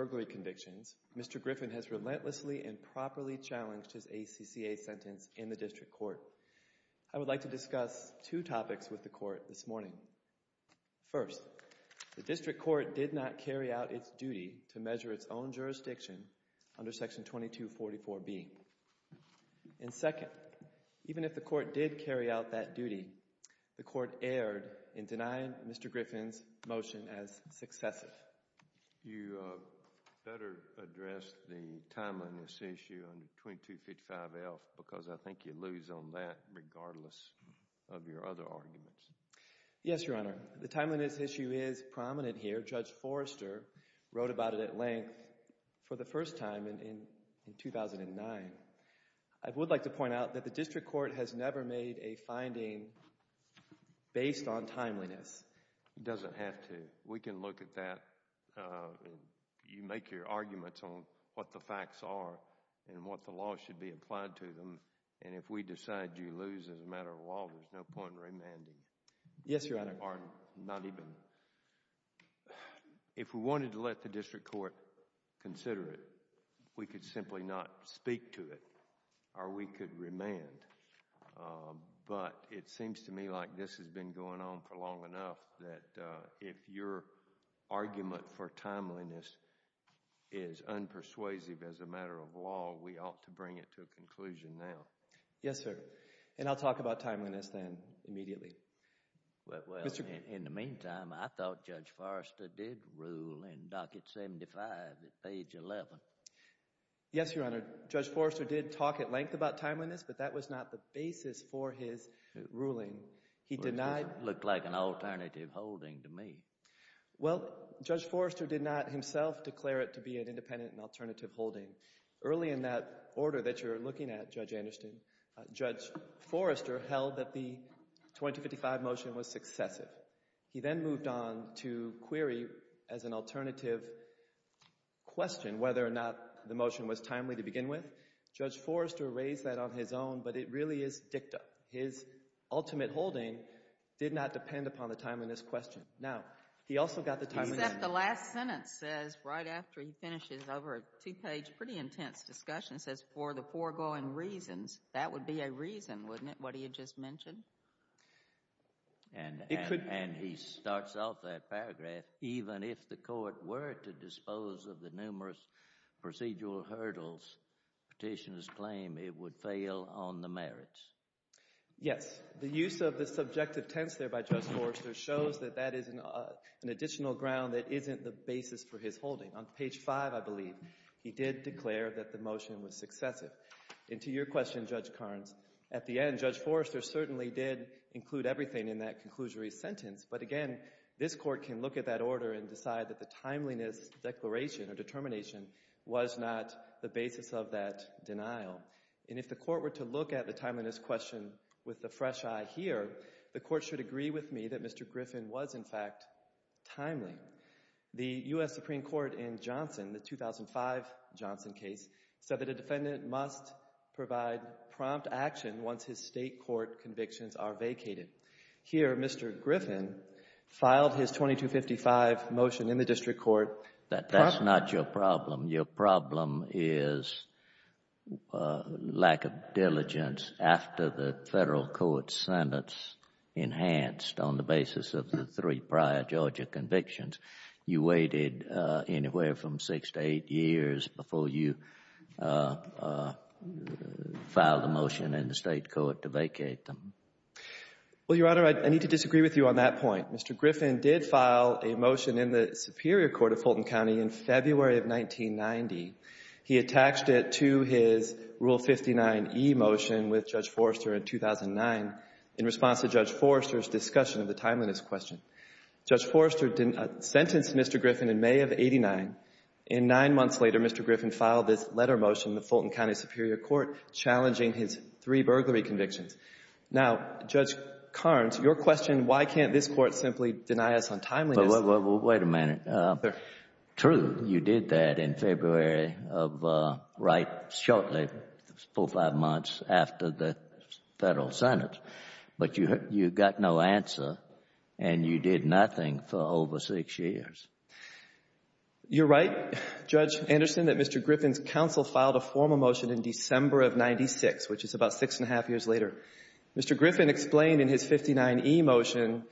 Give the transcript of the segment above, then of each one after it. Mr. Griffin has relentlessly and properly challenged his ACCA sentence in the District Court. I would like to discuss two topics with the Court this morning. First, the District Court did not carry out its duty to measure its own jurisdiction under Section 2244B. And second, even if the Court did carry out that duty, the Court erred in denying Mr. Griffin's motion as successive. You better address the timeliness issue under 2255F because I think you lose on that regardless of your other arguments. Yes, Your Honor. The timeliness issue is prominent here. Judge Forrester wrote about it at length for the first time in 2009. I would like to point out that the District Court has never made a finding based on timeliness. It doesn't have to. We can look at that. You make your arguments on what the facts are and what the law should be applied to them. And if we decide you lose as a matter of law, there's no point in remanding. Yes, Your Honor. Or not even. If we wanted to let the District Court consider it, we could simply not speak to it or we could remand. But it seems to me like this has been going on for long enough that if your argument for timeliness is unpersuasive as a matter of law, we ought to bring it to a conclusion now. Yes, sir. And I'll talk about timeliness then immediately. Well, in the meantime, I thought Judge Forrester did rule in Docket 75 at page 11. Yes, Your Honor. Judge Forrester did talk at length about timeliness, but that was not the basis for his ruling. It looked like an alternative holding to me. Well, Judge Forrester did not himself declare it to be an independent and alternative holding. Early in that order that you're looking at, Judge Anderson, Judge Forrester held that the 2255 motion was successive. He then moved on to query as an alternative question whether or not the motion was timely to begin with. Judge Forrester raised that on his own, but it really is dicta. His ultimate holding did not depend upon the timeliness question. Now, he also got the timeliness question. Except the last sentence says, right after he finishes over a two-page pretty intense discussion, says, for the foregoing reasons, that would be a reason, wouldn't it, what he had just mentioned? And he starts off that paragraph, even if the court were to dispose of the numerous procedural hurdles, petitioners claim it would fail on the merits. Yes. The use of the subjective tense there by Judge Forrester shows that that is an additional ground that isn't the basis for his holding. On page 5, I believe, he did declare that the motion was successive. And to your question, Judge Carnes, at the end, Judge Forrester certainly did include everything in that conclusory sentence, but again, this court can look at that order and decide that the timeliness declaration or determination was not the basis of that denial. And if the court were to look at the timeliness question with the fresh eye here, the court should agree with me that Mr. Griffin was, in fact, timely. The U.S. Supreme Court in Johnson, the 2005 Johnson case, said that a defendant must provide prompt action once his state court convictions are vacated. Here, Mr. Griffin filed his 2255 motion in the district court. That's not your problem. Your problem is lack of diligence after the federal court sentence enhanced on the basis of the three prior Georgia convictions. You waited anywhere from six to eight years before you filed a motion in the state court to vacate them. Well, Your Honor, I need to disagree with you on that point. Mr. Griffin did file a motion in the Superior Court of Fulton County in February of 1990. He attached it to his Rule 59e motion with Judge Forrester in 2009 in response to Judge Forrester's discussion of the timeliness question. Judge Forrester sentenced Mr. Griffin in May of 89. And nine months later, Mr. Griffin filed this letter motion in the Fulton County Superior Court challenging his three burglary convictions. Now, Judge Carnes, your question, why can't this court simply deny us on timeliness? Well, wait a minute. True, you did that in February of right shortly, four or five months after the federal sentence. But you got no answer, and you did nothing for over six years. You're right, Judge Anderson, that Mr. Griffin's counsel filed a formal motion in December of 96, which is about six and a half years later. Mr. Griffin explained in his 59e motion,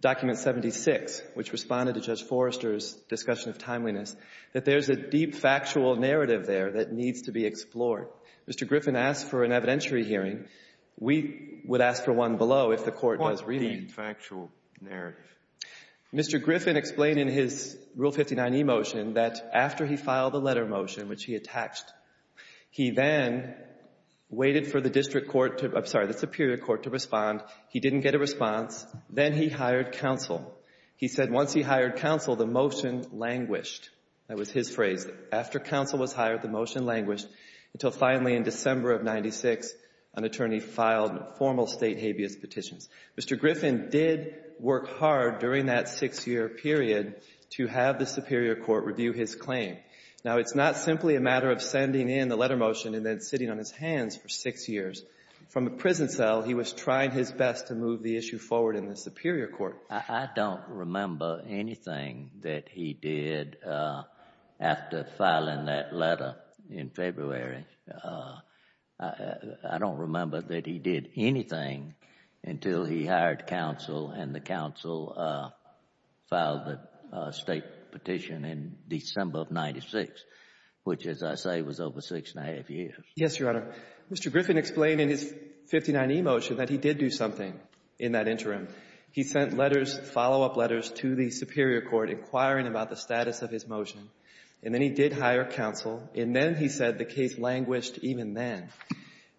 document 76, which responded to Judge Forrester's discussion of timeliness, that there's a deep factual narrative there that needs to be explored. Mr. Griffin asked for an evidentiary hearing. We would ask for one below if the court was reading. What deep factual narrative? Mr. Griffin explained in his Rule 59e motion that after he filed the letter motion, which he attached, he then waited for the district court to, I'm sorry, the Superior Court to respond. He didn't get a response. Then he hired counsel. He said once he hired counsel, the motion languished. That was his phrase. After counsel was hired, the motion languished until finally in December of 96, an attorney filed formal state habeas petitions. Mr. Griffin did work hard during that six-year period to have the Superior Court review his claim. Now, it's not simply a matter of sending in the letter motion and then sitting on his hands for six years. From a prison cell, he was trying his best to move the issue forward in the Superior Court. I don't remember anything that he did after filing that letter in February. I don't remember that he did anything until he hired counsel and the counsel filed the state petition in December of 96, which, as I say, was over six and a half years. Yes, Your Honor. Mr. Griffin explained in his 59e motion that he did do something in that interim. He sent letters, follow-up letters, to the Superior Court inquiring about the status of his motion. And then he did hire counsel. And then he said the case languished even then.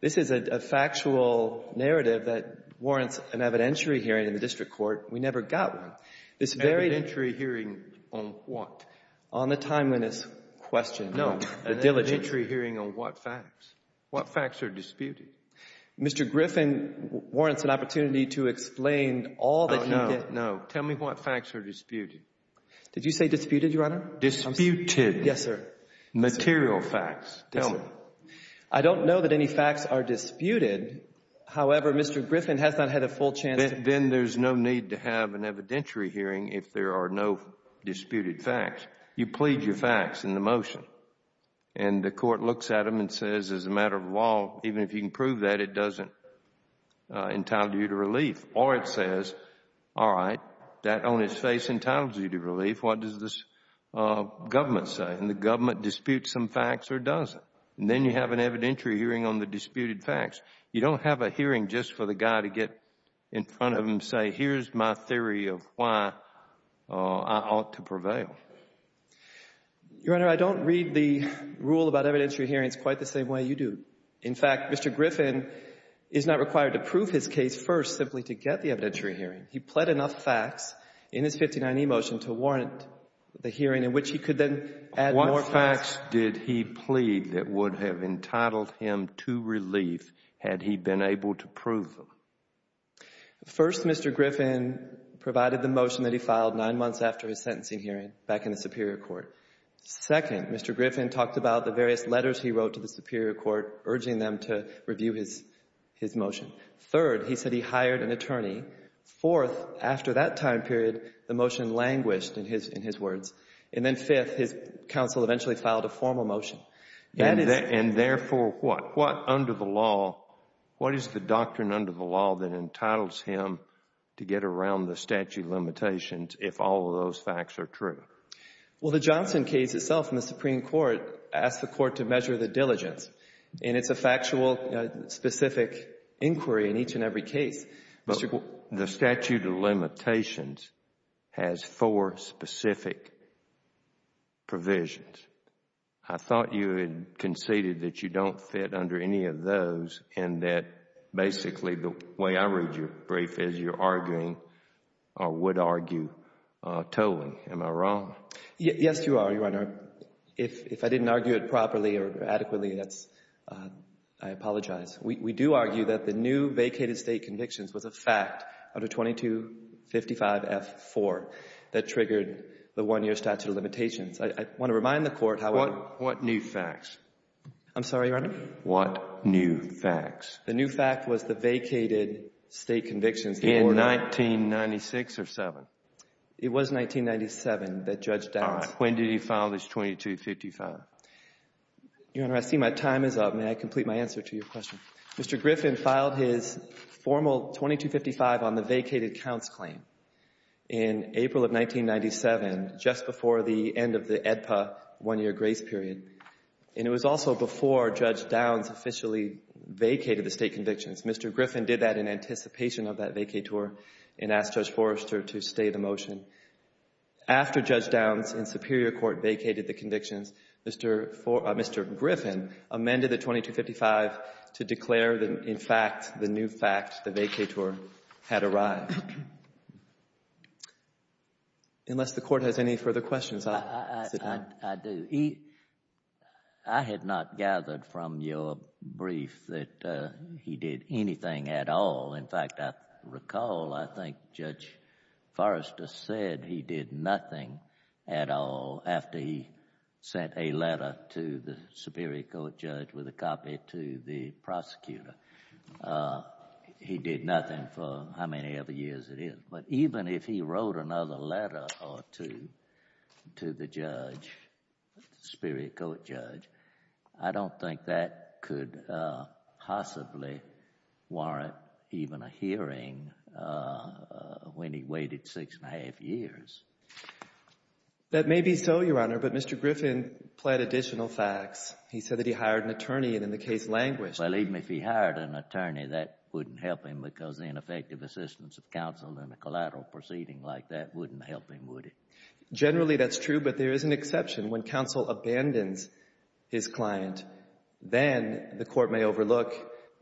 This is a factual narrative that warrants an evidentiary hearing in the district court. We never got one. This very — Evidentiary hearing on what? On the timeliness question. No. The diligence. Evidentiary hearing on what facts? What facts are disputed? Mr. Griffin warrants an opportunity to explain all that he — Oh, no, no. Tell me what facts are disputed. Did you say disputed, Your Honor? Disputed. Yes, sir. Material facts. Tell me. I don't know that any facts are disputed. However, Mr. Griffin has not had a full chance to — Then there's no need to have an evidentiary hearing if there are no disputed facts. You plead your facts in the motion. And the court looks at them and says, as a matter of law, even if you can prove that, it doesn't entitle you to relief. Or it says, all right, that on its face entitles you to relief. What does this government say? Doesn't the government dispute some facts or does it? And then you have an evidentiary hearing on the disputed facts. You don't have a hearing just for the guy to get in front of him and say, here's my theory of why I ought to prevail. Your Honor, I don't read the rule about evidentiary hearings quite the same way you do. In fact, Mr. Griffin is not required to prove his case first simply to get the evidentiary hearing. He pled enough facts in his 59E motion to warrant the hearing in which he could then add more facts. What facts did he plead that would have entitled him to relief had he been able to prove them? First, Mr. Griffin provided the motion that he filed nine months after his sentencing hearing back in the Superior Court. Second, Mr. Griffin talked about the various letters he wrote to the Superior Court urging them to review his motion. Third, he said he hired an attorney. Fourth, after that time period, the motion languished in his words. And then fifth, his counsel eventually filed a formal motion. And therefore what? What under the law, what is the doctrine under the law that entitles him to get around the statute of limitations if all of those facts are true? Well, the Johnson case itself in the Supreme Court asked the court to measure the diligence. And it's a factual, specific inquiry in each and every case. But the statute of limitations has four specific provisions. I thought you had conceded that you don't fit under any of those and that basically the way I read your brief is you're arguing or would argue totally. Am I wrong? Yes, you are, Your Honor. If I didn't argue it properly or adequately, that's — I apologize. We do argue that the new vacated State convictions was a fact under 2255F4 that triggered the one-year statute of limitations. I want to remind the Court, however — What new facts? I'm sorry, Your Honor? What new facts? The new fact was the vacated State convictions. In 1996 or 7? It was 1997 that Judge Downs — When did he file this 2255? Your Honor, I see my time is up. May I complete my answer to your question? Mr. Griffin filed his formal 2255 on the vacated counts claim in April of 1997, just before the end of the AEDPA one-year grace period. And it was also before Judge Downs officially vacated the State convictions. Mr. Griffin did that in anticipation of that vacay tour and asked Judge Forrester to stay the motion. After Judge Downs in Superior Court vacated the convictions, Mr. Griffin amended the 2255 to declare that, in fact, the new fact, the vacay tour, had arrived. Unless the Court has any further questions, I'll sit down. I do. I had not gathered from your brief that he did anything at all. In fact, I recall, I think, Judge Forrester said he did nothing at all after he sent a letter to the Superior Court judge with a copy to the prosecutor. He did nothing for however many years it is. But even if he wrote another letter or two to the judge, the Superior Court judge, I don't think that could possibly warrant even a hearing when he waited six and a half years. That may be so, Your Honor, but Mr. Griffin pled additional facts. He said that he hired an attorney, and in the case languished. Well, even if he hired an attorney, that wouldn't help him because the ineffective assistance of counsel in a collateral proceeding like that wouldn't help him, would it? Generally, that's true, but there is an exception. When counsel abandons his client, then the Court may overlook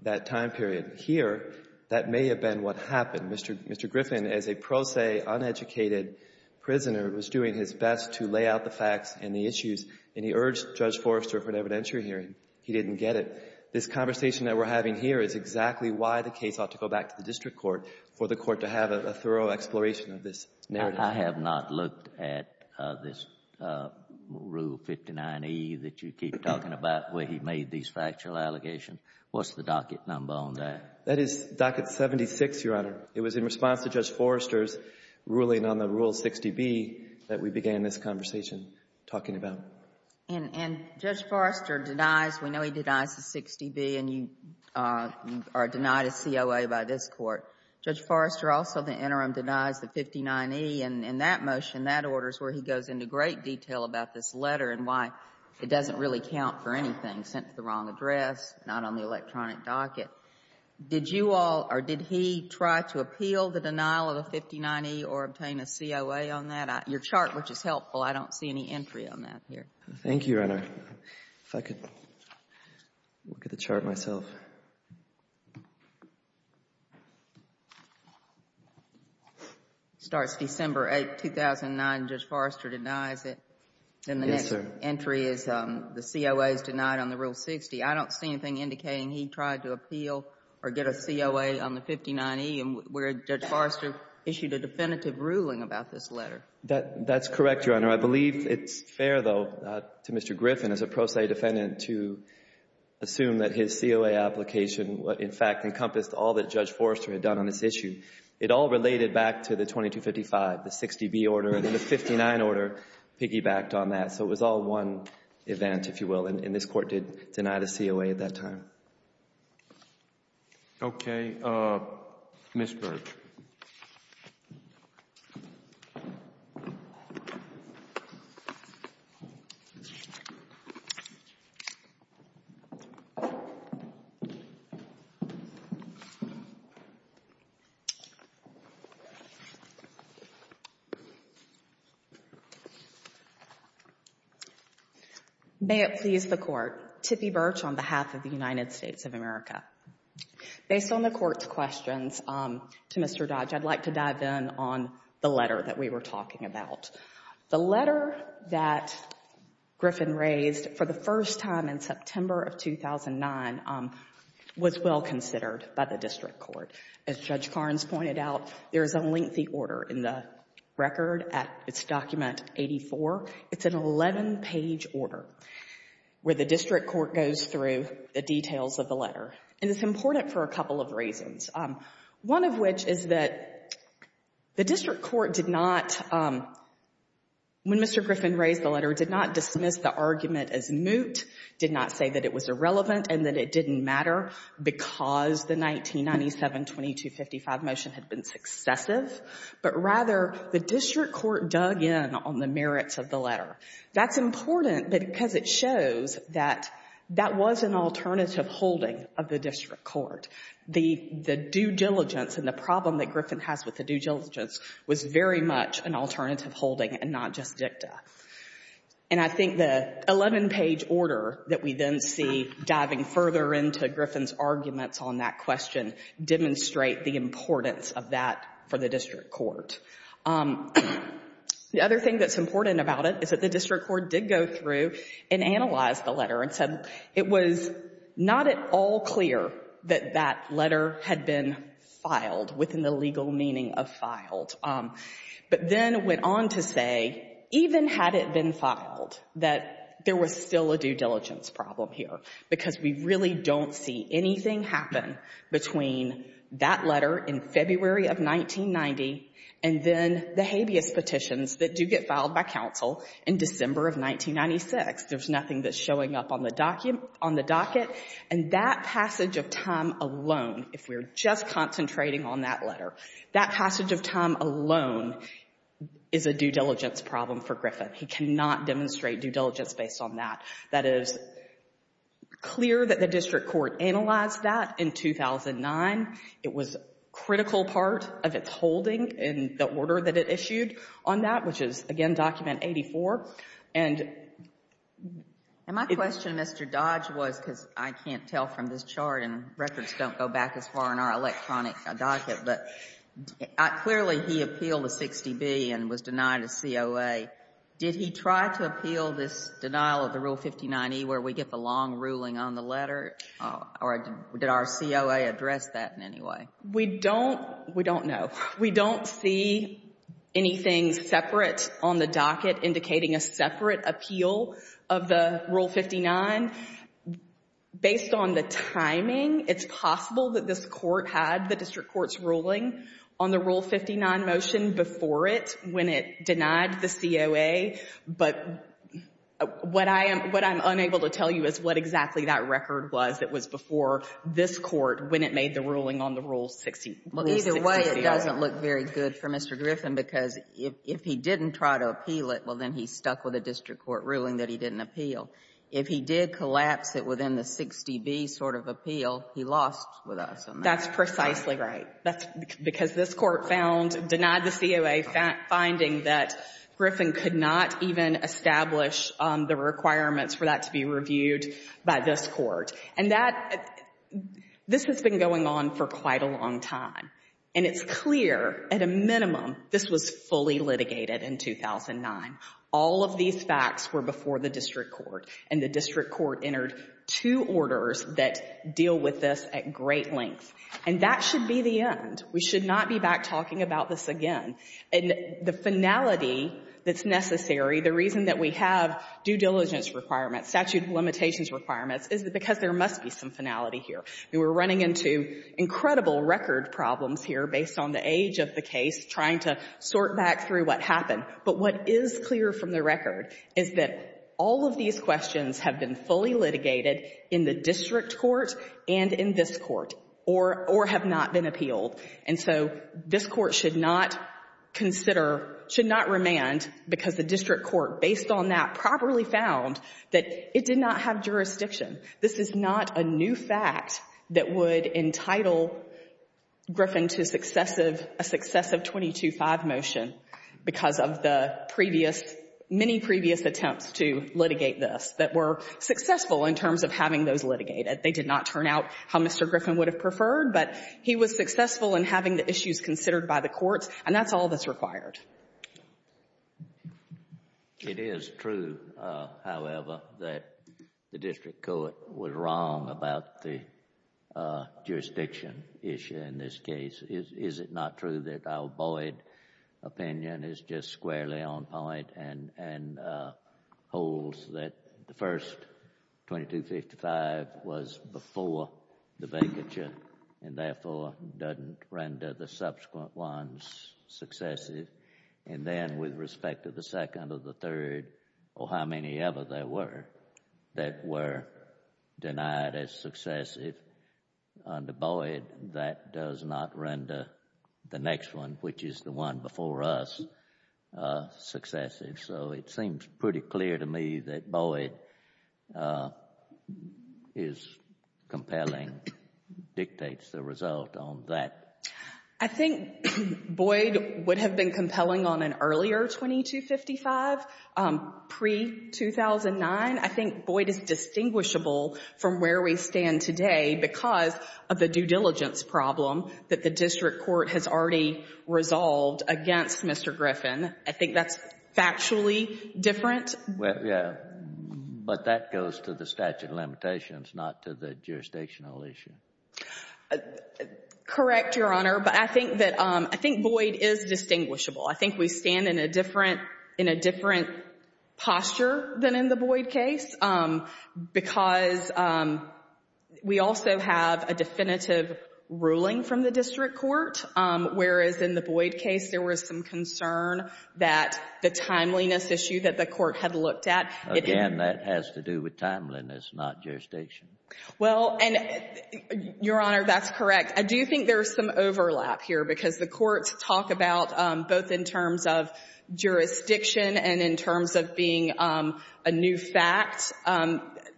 that time period. Here, that may have been what happened. Mr. Griffin, as a pro se, uneducated prisoner, was doing his best to lay out the facts and the issues, and he urged Judge Forrester for an evidentiary hearing. He didn't get it. This conversation that we're having here is exactly why the case ought to go back to the district court for the Court to have a thorough exploration of this narrative. I have not looked at this Rule 59e that you keep talking about where he made these factual allegations. What's the docket number on that? That is docket 76, Your Honor. It was in response to Judge Forrester's ruling on the Rule 60b that we began this conversation talking about. And Judge Forrester denies, we know he denies the 60b, and you are denied a COA by this court. Judge Forrester also in the interim denies the 59e, and in that motion, that order is where he goes into great detail about this letter and why it doesn't really count for anything, sent to the wrong address, not on the electronic docket. Did you all or did he try to appeal the denial of the 59e or obtain a COA on that? Your chart, which is helpful, I don't see any entry on that here. Thank you, Your Honor. If I could look at the chart myself. It starts December 8, 2009. Judge Forrester denies it. Yes, sir. And the next entry is the COA is denied on the Rule 60. I don't see anything indicating he tried to appeal or get a COA on the 59e where Judge Forrester issued a definitive ruling about this letter. That's correct, Your Honor. I believe it's fair, though, to Mr. Griffin, as a pro se defendant, to assume that his COA application would, in fact, encompass all that Judge Forrester had done on this issue. It all related back to the 2255, the 60b order, and then the 59 order piggybacked on that. So it was all one event, if you will, and this court did deny the COA at that time. Okay. Ms. Berg. May it please the Court. Tippi Birch on behalf of the United States of America. Based on the Court's questions to Mr. Dodge, I'd like to dive in on the letter that we were talking about. The letter that Griffin raised for the first time in September of 2009 was well considered by the district court. As Judge Carnes pointed out, there is a lengthy order in the record at its document 84. It's an 11-page order where the district court goes through the details of the letter. And it's important for a couple of reasons, one of which is that the district court did not, when Mr. Griffin raised the letter, did not dismiss the argument as moot, did not say that it was irrelevant and that it didn't matter because the 1997 2255 motion had been successive. But rather, the district court dug in on the merits of the letter. That's important because it shows that that was an alternative holding of the district court. The due diligence and the problem that Griffin has with the due diligence was very much an alternative holding and not just dicta. And I think the 11-page order that we then see diving further into Griffin's arguments on that question demonstrate the importance of that for the district court. The other thing that's important about it is that the district court did go through and analyze the letter and said it was not at all clear that that letter had been filed within the legal meaning of filed. But then went on to say, even had it been filed, that there was still a due diligence problem here because we really don't see anything happen between that letter in February of 1990 and then the habeas petitions that do get filed by counsel in December of 1996. There's nothing that's showing up on the docket. And that passage of time alone, if we're just concentrating on that letter, that passage of time alone is a due diligence problem for Griffin. He cannot demonstrate due diligence based on that. That is clear that the district court analyzed that in 2009. It was a critical part of its holding in the order that it issued on that, which is, again, Document 84. And my question, Mr. Dodge, was because I can't tell from this chart and records don't go back as far in our electronic docket, but clearly he appealed a 60B and was denied a COA. Did he try to appeal this denial of the Rule 59E where we get the long ruling on the letter? Or did our COA address that in any way? We don't know. We don't see anything separate on the docket indicating a separate appeal of the Rule 59. Based on the timing, it's possible that this court had the district court's ruling on the Rule 59 motion before it when it denied the COA. But what I'm unable to tell you is what exactly that record was that was before this court when it made the ruling on the Rule 60. Well, either way, it doesn't look very good for Mr. Griffin because if he didn't try to appeal it, well, then he stuck with a district court ruling that he didn't appeal. If he did collapse it within the 60B sort of appeal, he lost with us on that. That's precisely right. That's because this court found, denied the COA, finding that Griffin could not even establish the requirements for that to be reviewed by this court. And that, this has been going on for quite a long time. And it's clear, at a minimum, this was fully litigated in 2009. All of these facts were before the district court. And the district court entered two orders that deal with this at great length. And that should be the end. We should not be back talking about this again. And the finality that's necessary, the reason that we have due diligence requirements, statute of limitations requirements, is because there must be some finality here. We're running into incredible record problems here based on the age of the case, trying to sort back through what happened. But what is clear from the record is that all of these questions have been fully litigated in the district court and in this court, or have not been appealed. And so this Court should not consider, should not remand, because the district court, based on that, properly found that it did not have jurisdiction. This is not a new fact that would entitle Griffin to successive, a successive 22-5 motion because of the previous, many previous attempts to litigate this that were successful in terms of having those litigated. They did not turn out how Mr. Griffin would have preferred, but he was successful in having the issues considered by the courts. And that's all that's required. It is true, however, that the district court was wrong about the jurisdiction issue in this case. Is it not true that our Boyd opinion is just squarely on point and holds that the first 2255 was before the vacature and therefore doesn't render the And then with respect to the second or the third or how many ever there were that were denied as successive under Boyd, that does not render the next one, which is the one before us, successive. So it seems pretty clear to me that Boyd is compelling, dictates the result on that. I think Boyd would have been compelling on an earlier 2255, pre-2009. I think Boyd is distinguishable from where we stand today because of the due diligence problem that the district court has already resolved against Mr. Griffin. I think that's factually different. Yeah, but that goes to the statute of limitations, not to the jurisdictional issue. Correct, Your Honor, but I think Boyd is distinguishable. I think we stand in a different posture than in the Boyd case because we also have a definitive ruling from the district court, whereas in the Boyd case there was some concern that the timeliness issue that the court had looked at. Again, that has to do with timeliness, not jurisdiction. Well, and, Your Honor, that's correct. I do think there's some overlap here because the courts talk about both in terms of jurisdiction and in terms of being a new fact,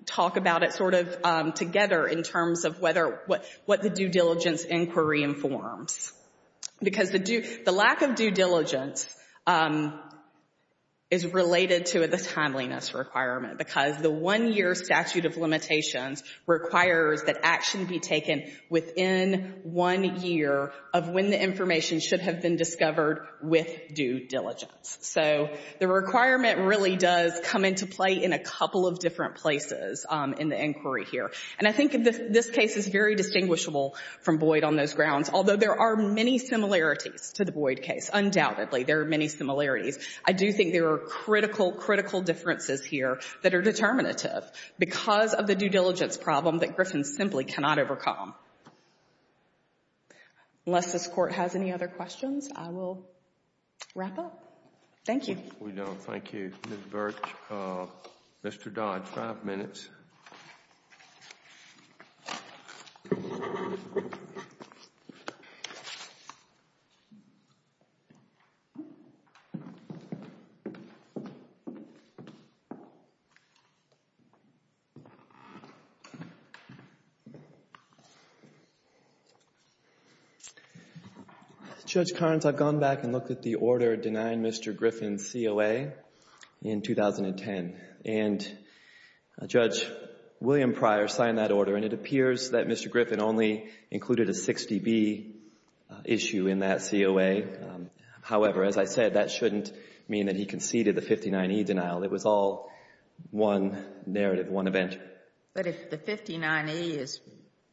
talk about it sort of together in terms of whether what the due diligence inquiry informs. Because the lack of due diligence is related to the timeliness requirement because the one-year statute of limitations requires that action be taken within one year of when the information should have been discovered with due diligence. So the requirement really does come into play in a couple of different places in the inquiry here. And I think this case is very distinguishable from Boyd on those grounds, although there are many similarities to the Boyd case. Undoubtedly, there are many similarities. I do think there are critical, critical differences here that are determinative because of the due diligence problem that Griffin simply cannot overcome. Unless this Court has any other questions, I will wrap up. Thank you. We don't. Thank you. Ms. Birch, Mr. Dodd, five minutes. Judge Karnes, I've gone back and looked at the order denying Mr. Griffin COA in 2010, and Judge William Pryor signed that order. And it appears that Mr. Griffin only included a 60B issue in that COA. However, as I said, that shouldn't mean that he conceded the 59E denial. It was all one narrative, one event. But if the 59E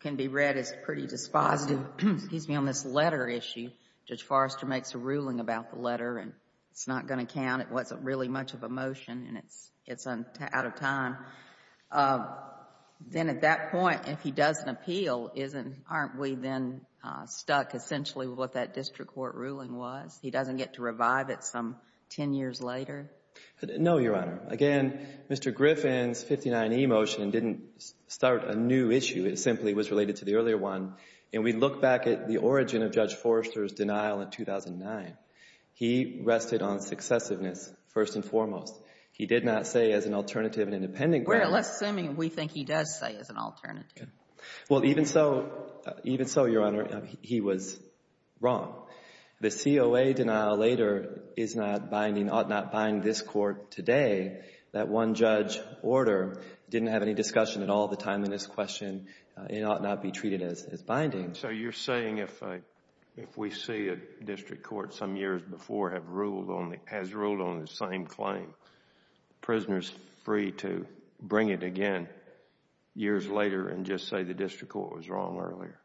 can be read as pretty dispositive, excuse me, on this letter issue, Judge Forrester makes a ruling about the letter, and it's not going to count. And it wasn't really much of a motion, and it's out of time. Then at that point, if he doesn't appeal, isn't — aren't we then stuck essentially with what that district court ruling was? He doesn't get to revive it some 10 years later? No, Your Honor. Again, Mr. Griffin's 59E motion didn't start a new issue. It simply was related to the earlier one. And we look back at the origin of Judge Forrester's denial in 2009. He rested on successiveness first and foremost. He did not say as an alternative and independent grant. We're less assuming we think he does say as an alternative. Well, even so — even so, Your Honor, he was wrong. The COA denial later is not binding, ought not bind this court today. That one-judge order didn't have any discussion at all the time in this question, and it ought not be treated as binding. So you're saying if we see a district court some years before has ruled on the same claim, prisoners free to bring it again years later and just say the district court was wrong earlier?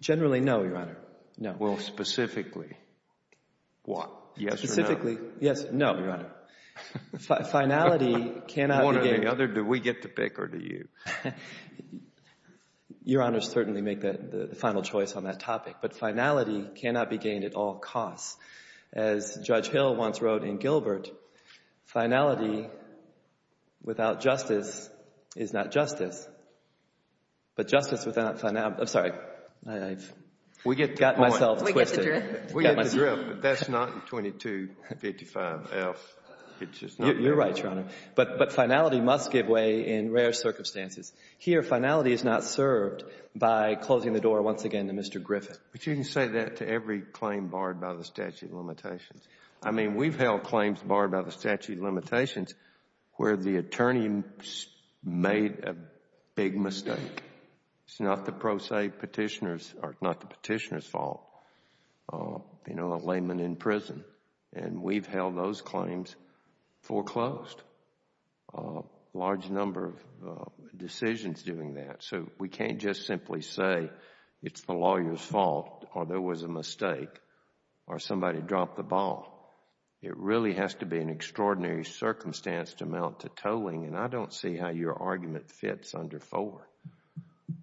Generally, no, Your Honor, no. Well, specifically, what? Yes or no? Specifically, yes, no, Your Honor. Finality cannot be — One or the other, do we get to pick or do you? Your Honors certainly make the final choice on that topic. But finality cannot be gained at all costs. As Judge Hill once wrote in Gilbert, finality without justice is not justice. But justice without — I'm sorry. I've got myself twisted. We get the drift, but that's not in 2255F. You're right, Your Honor. But finality must give way in rare circumstances. Here, finality is not served by closing the door once again to Mr. Griffin. But you can say that to every claim barred by the statute of limitations. I mean, we've held claims barred by the statute of limitations where the attorney made a big mistake. It's not the pro se Petitioner's — or not the Petitioner's fault, you know, a layman in prison. And we've held those claims foreclosed, a large number of decisions doing that. So we can't just simply say it's the lawyer's fault or there was a mistake or somebody dropped the ball. It really has to be an extraordinary circumstance to mount to tolling. And I don't see how your argument fits under 4,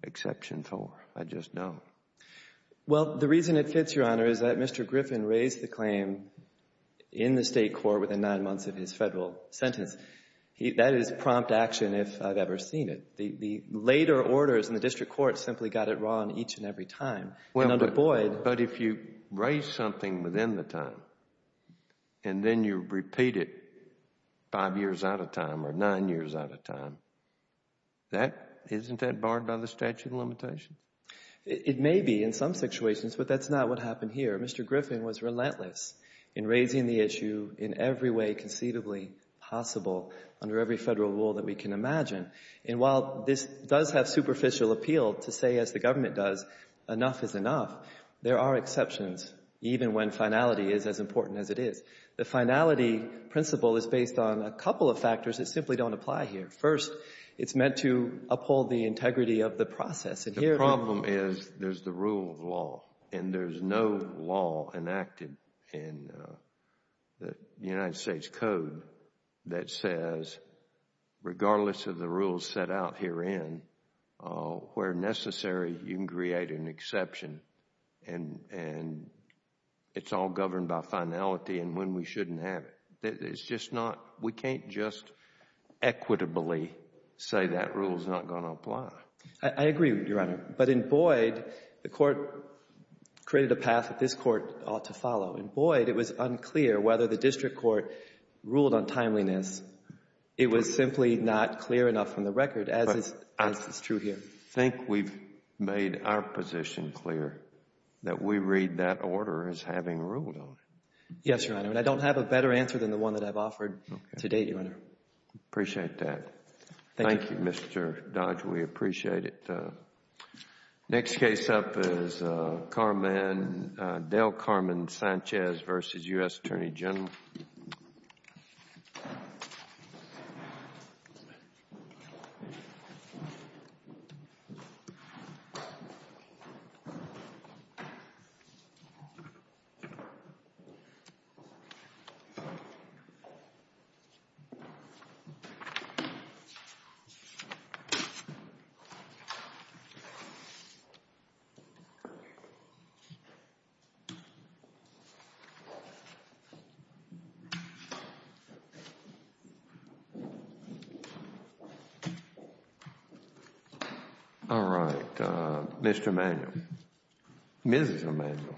exception 4. I just don't. Well, the reason it fits, Your Honor, is that Mr. Griffin raised the claim in the state court within nine months of his federal sentence. That is prompt action if I've ever seen it. The later orders in the district court simply got it wrong each and every time. And under Boyd — But if you raise something within the time and then you repeat it five years out of time or nine years out of time, isn't that barred by the statute of limitations? It may be in some situations, but that's not what happened here. Mr. Griffin was relentless in raising the issue in every way conceivably possible under every federal rule that we can imagine. And while this does have superficial appeal to say, as the government does, enough is enough, there are exceptions even when finality is as important as it is. The finality principle is based on a couple of factors that simply don't apply here. First, it's meant to uphold the integrity of the process. The problem is there's the rule of law and there's no law enacted in the United States Code that says, regardless of the rules set out herein, where necessary you can create an exception and it's all governed by finality and when we shouldn't have it. It's just not — we can't just equitably say that rule is not going to apply. I agree, Your Honor. But in Boyd, the Court created a path that this Court ought to follow. In Boyd, it was unclear whether the district court ruled on timeliness. It was simply not clear enough from the record, as is true here. But I think we've made our position clear, that we read that order as having ruled on it. Yes, Your Honor. And I don't have a better answer than the one that I've offered to date, Your Honor. Appreciate that. Thank you. Thank you, Mr. Dodge. We appreciate it. Next case up is Carman — Dale Carman Sanchez v. U.S. Attorney General. All right. Mr. Emanuel. Mrs. Emanuel.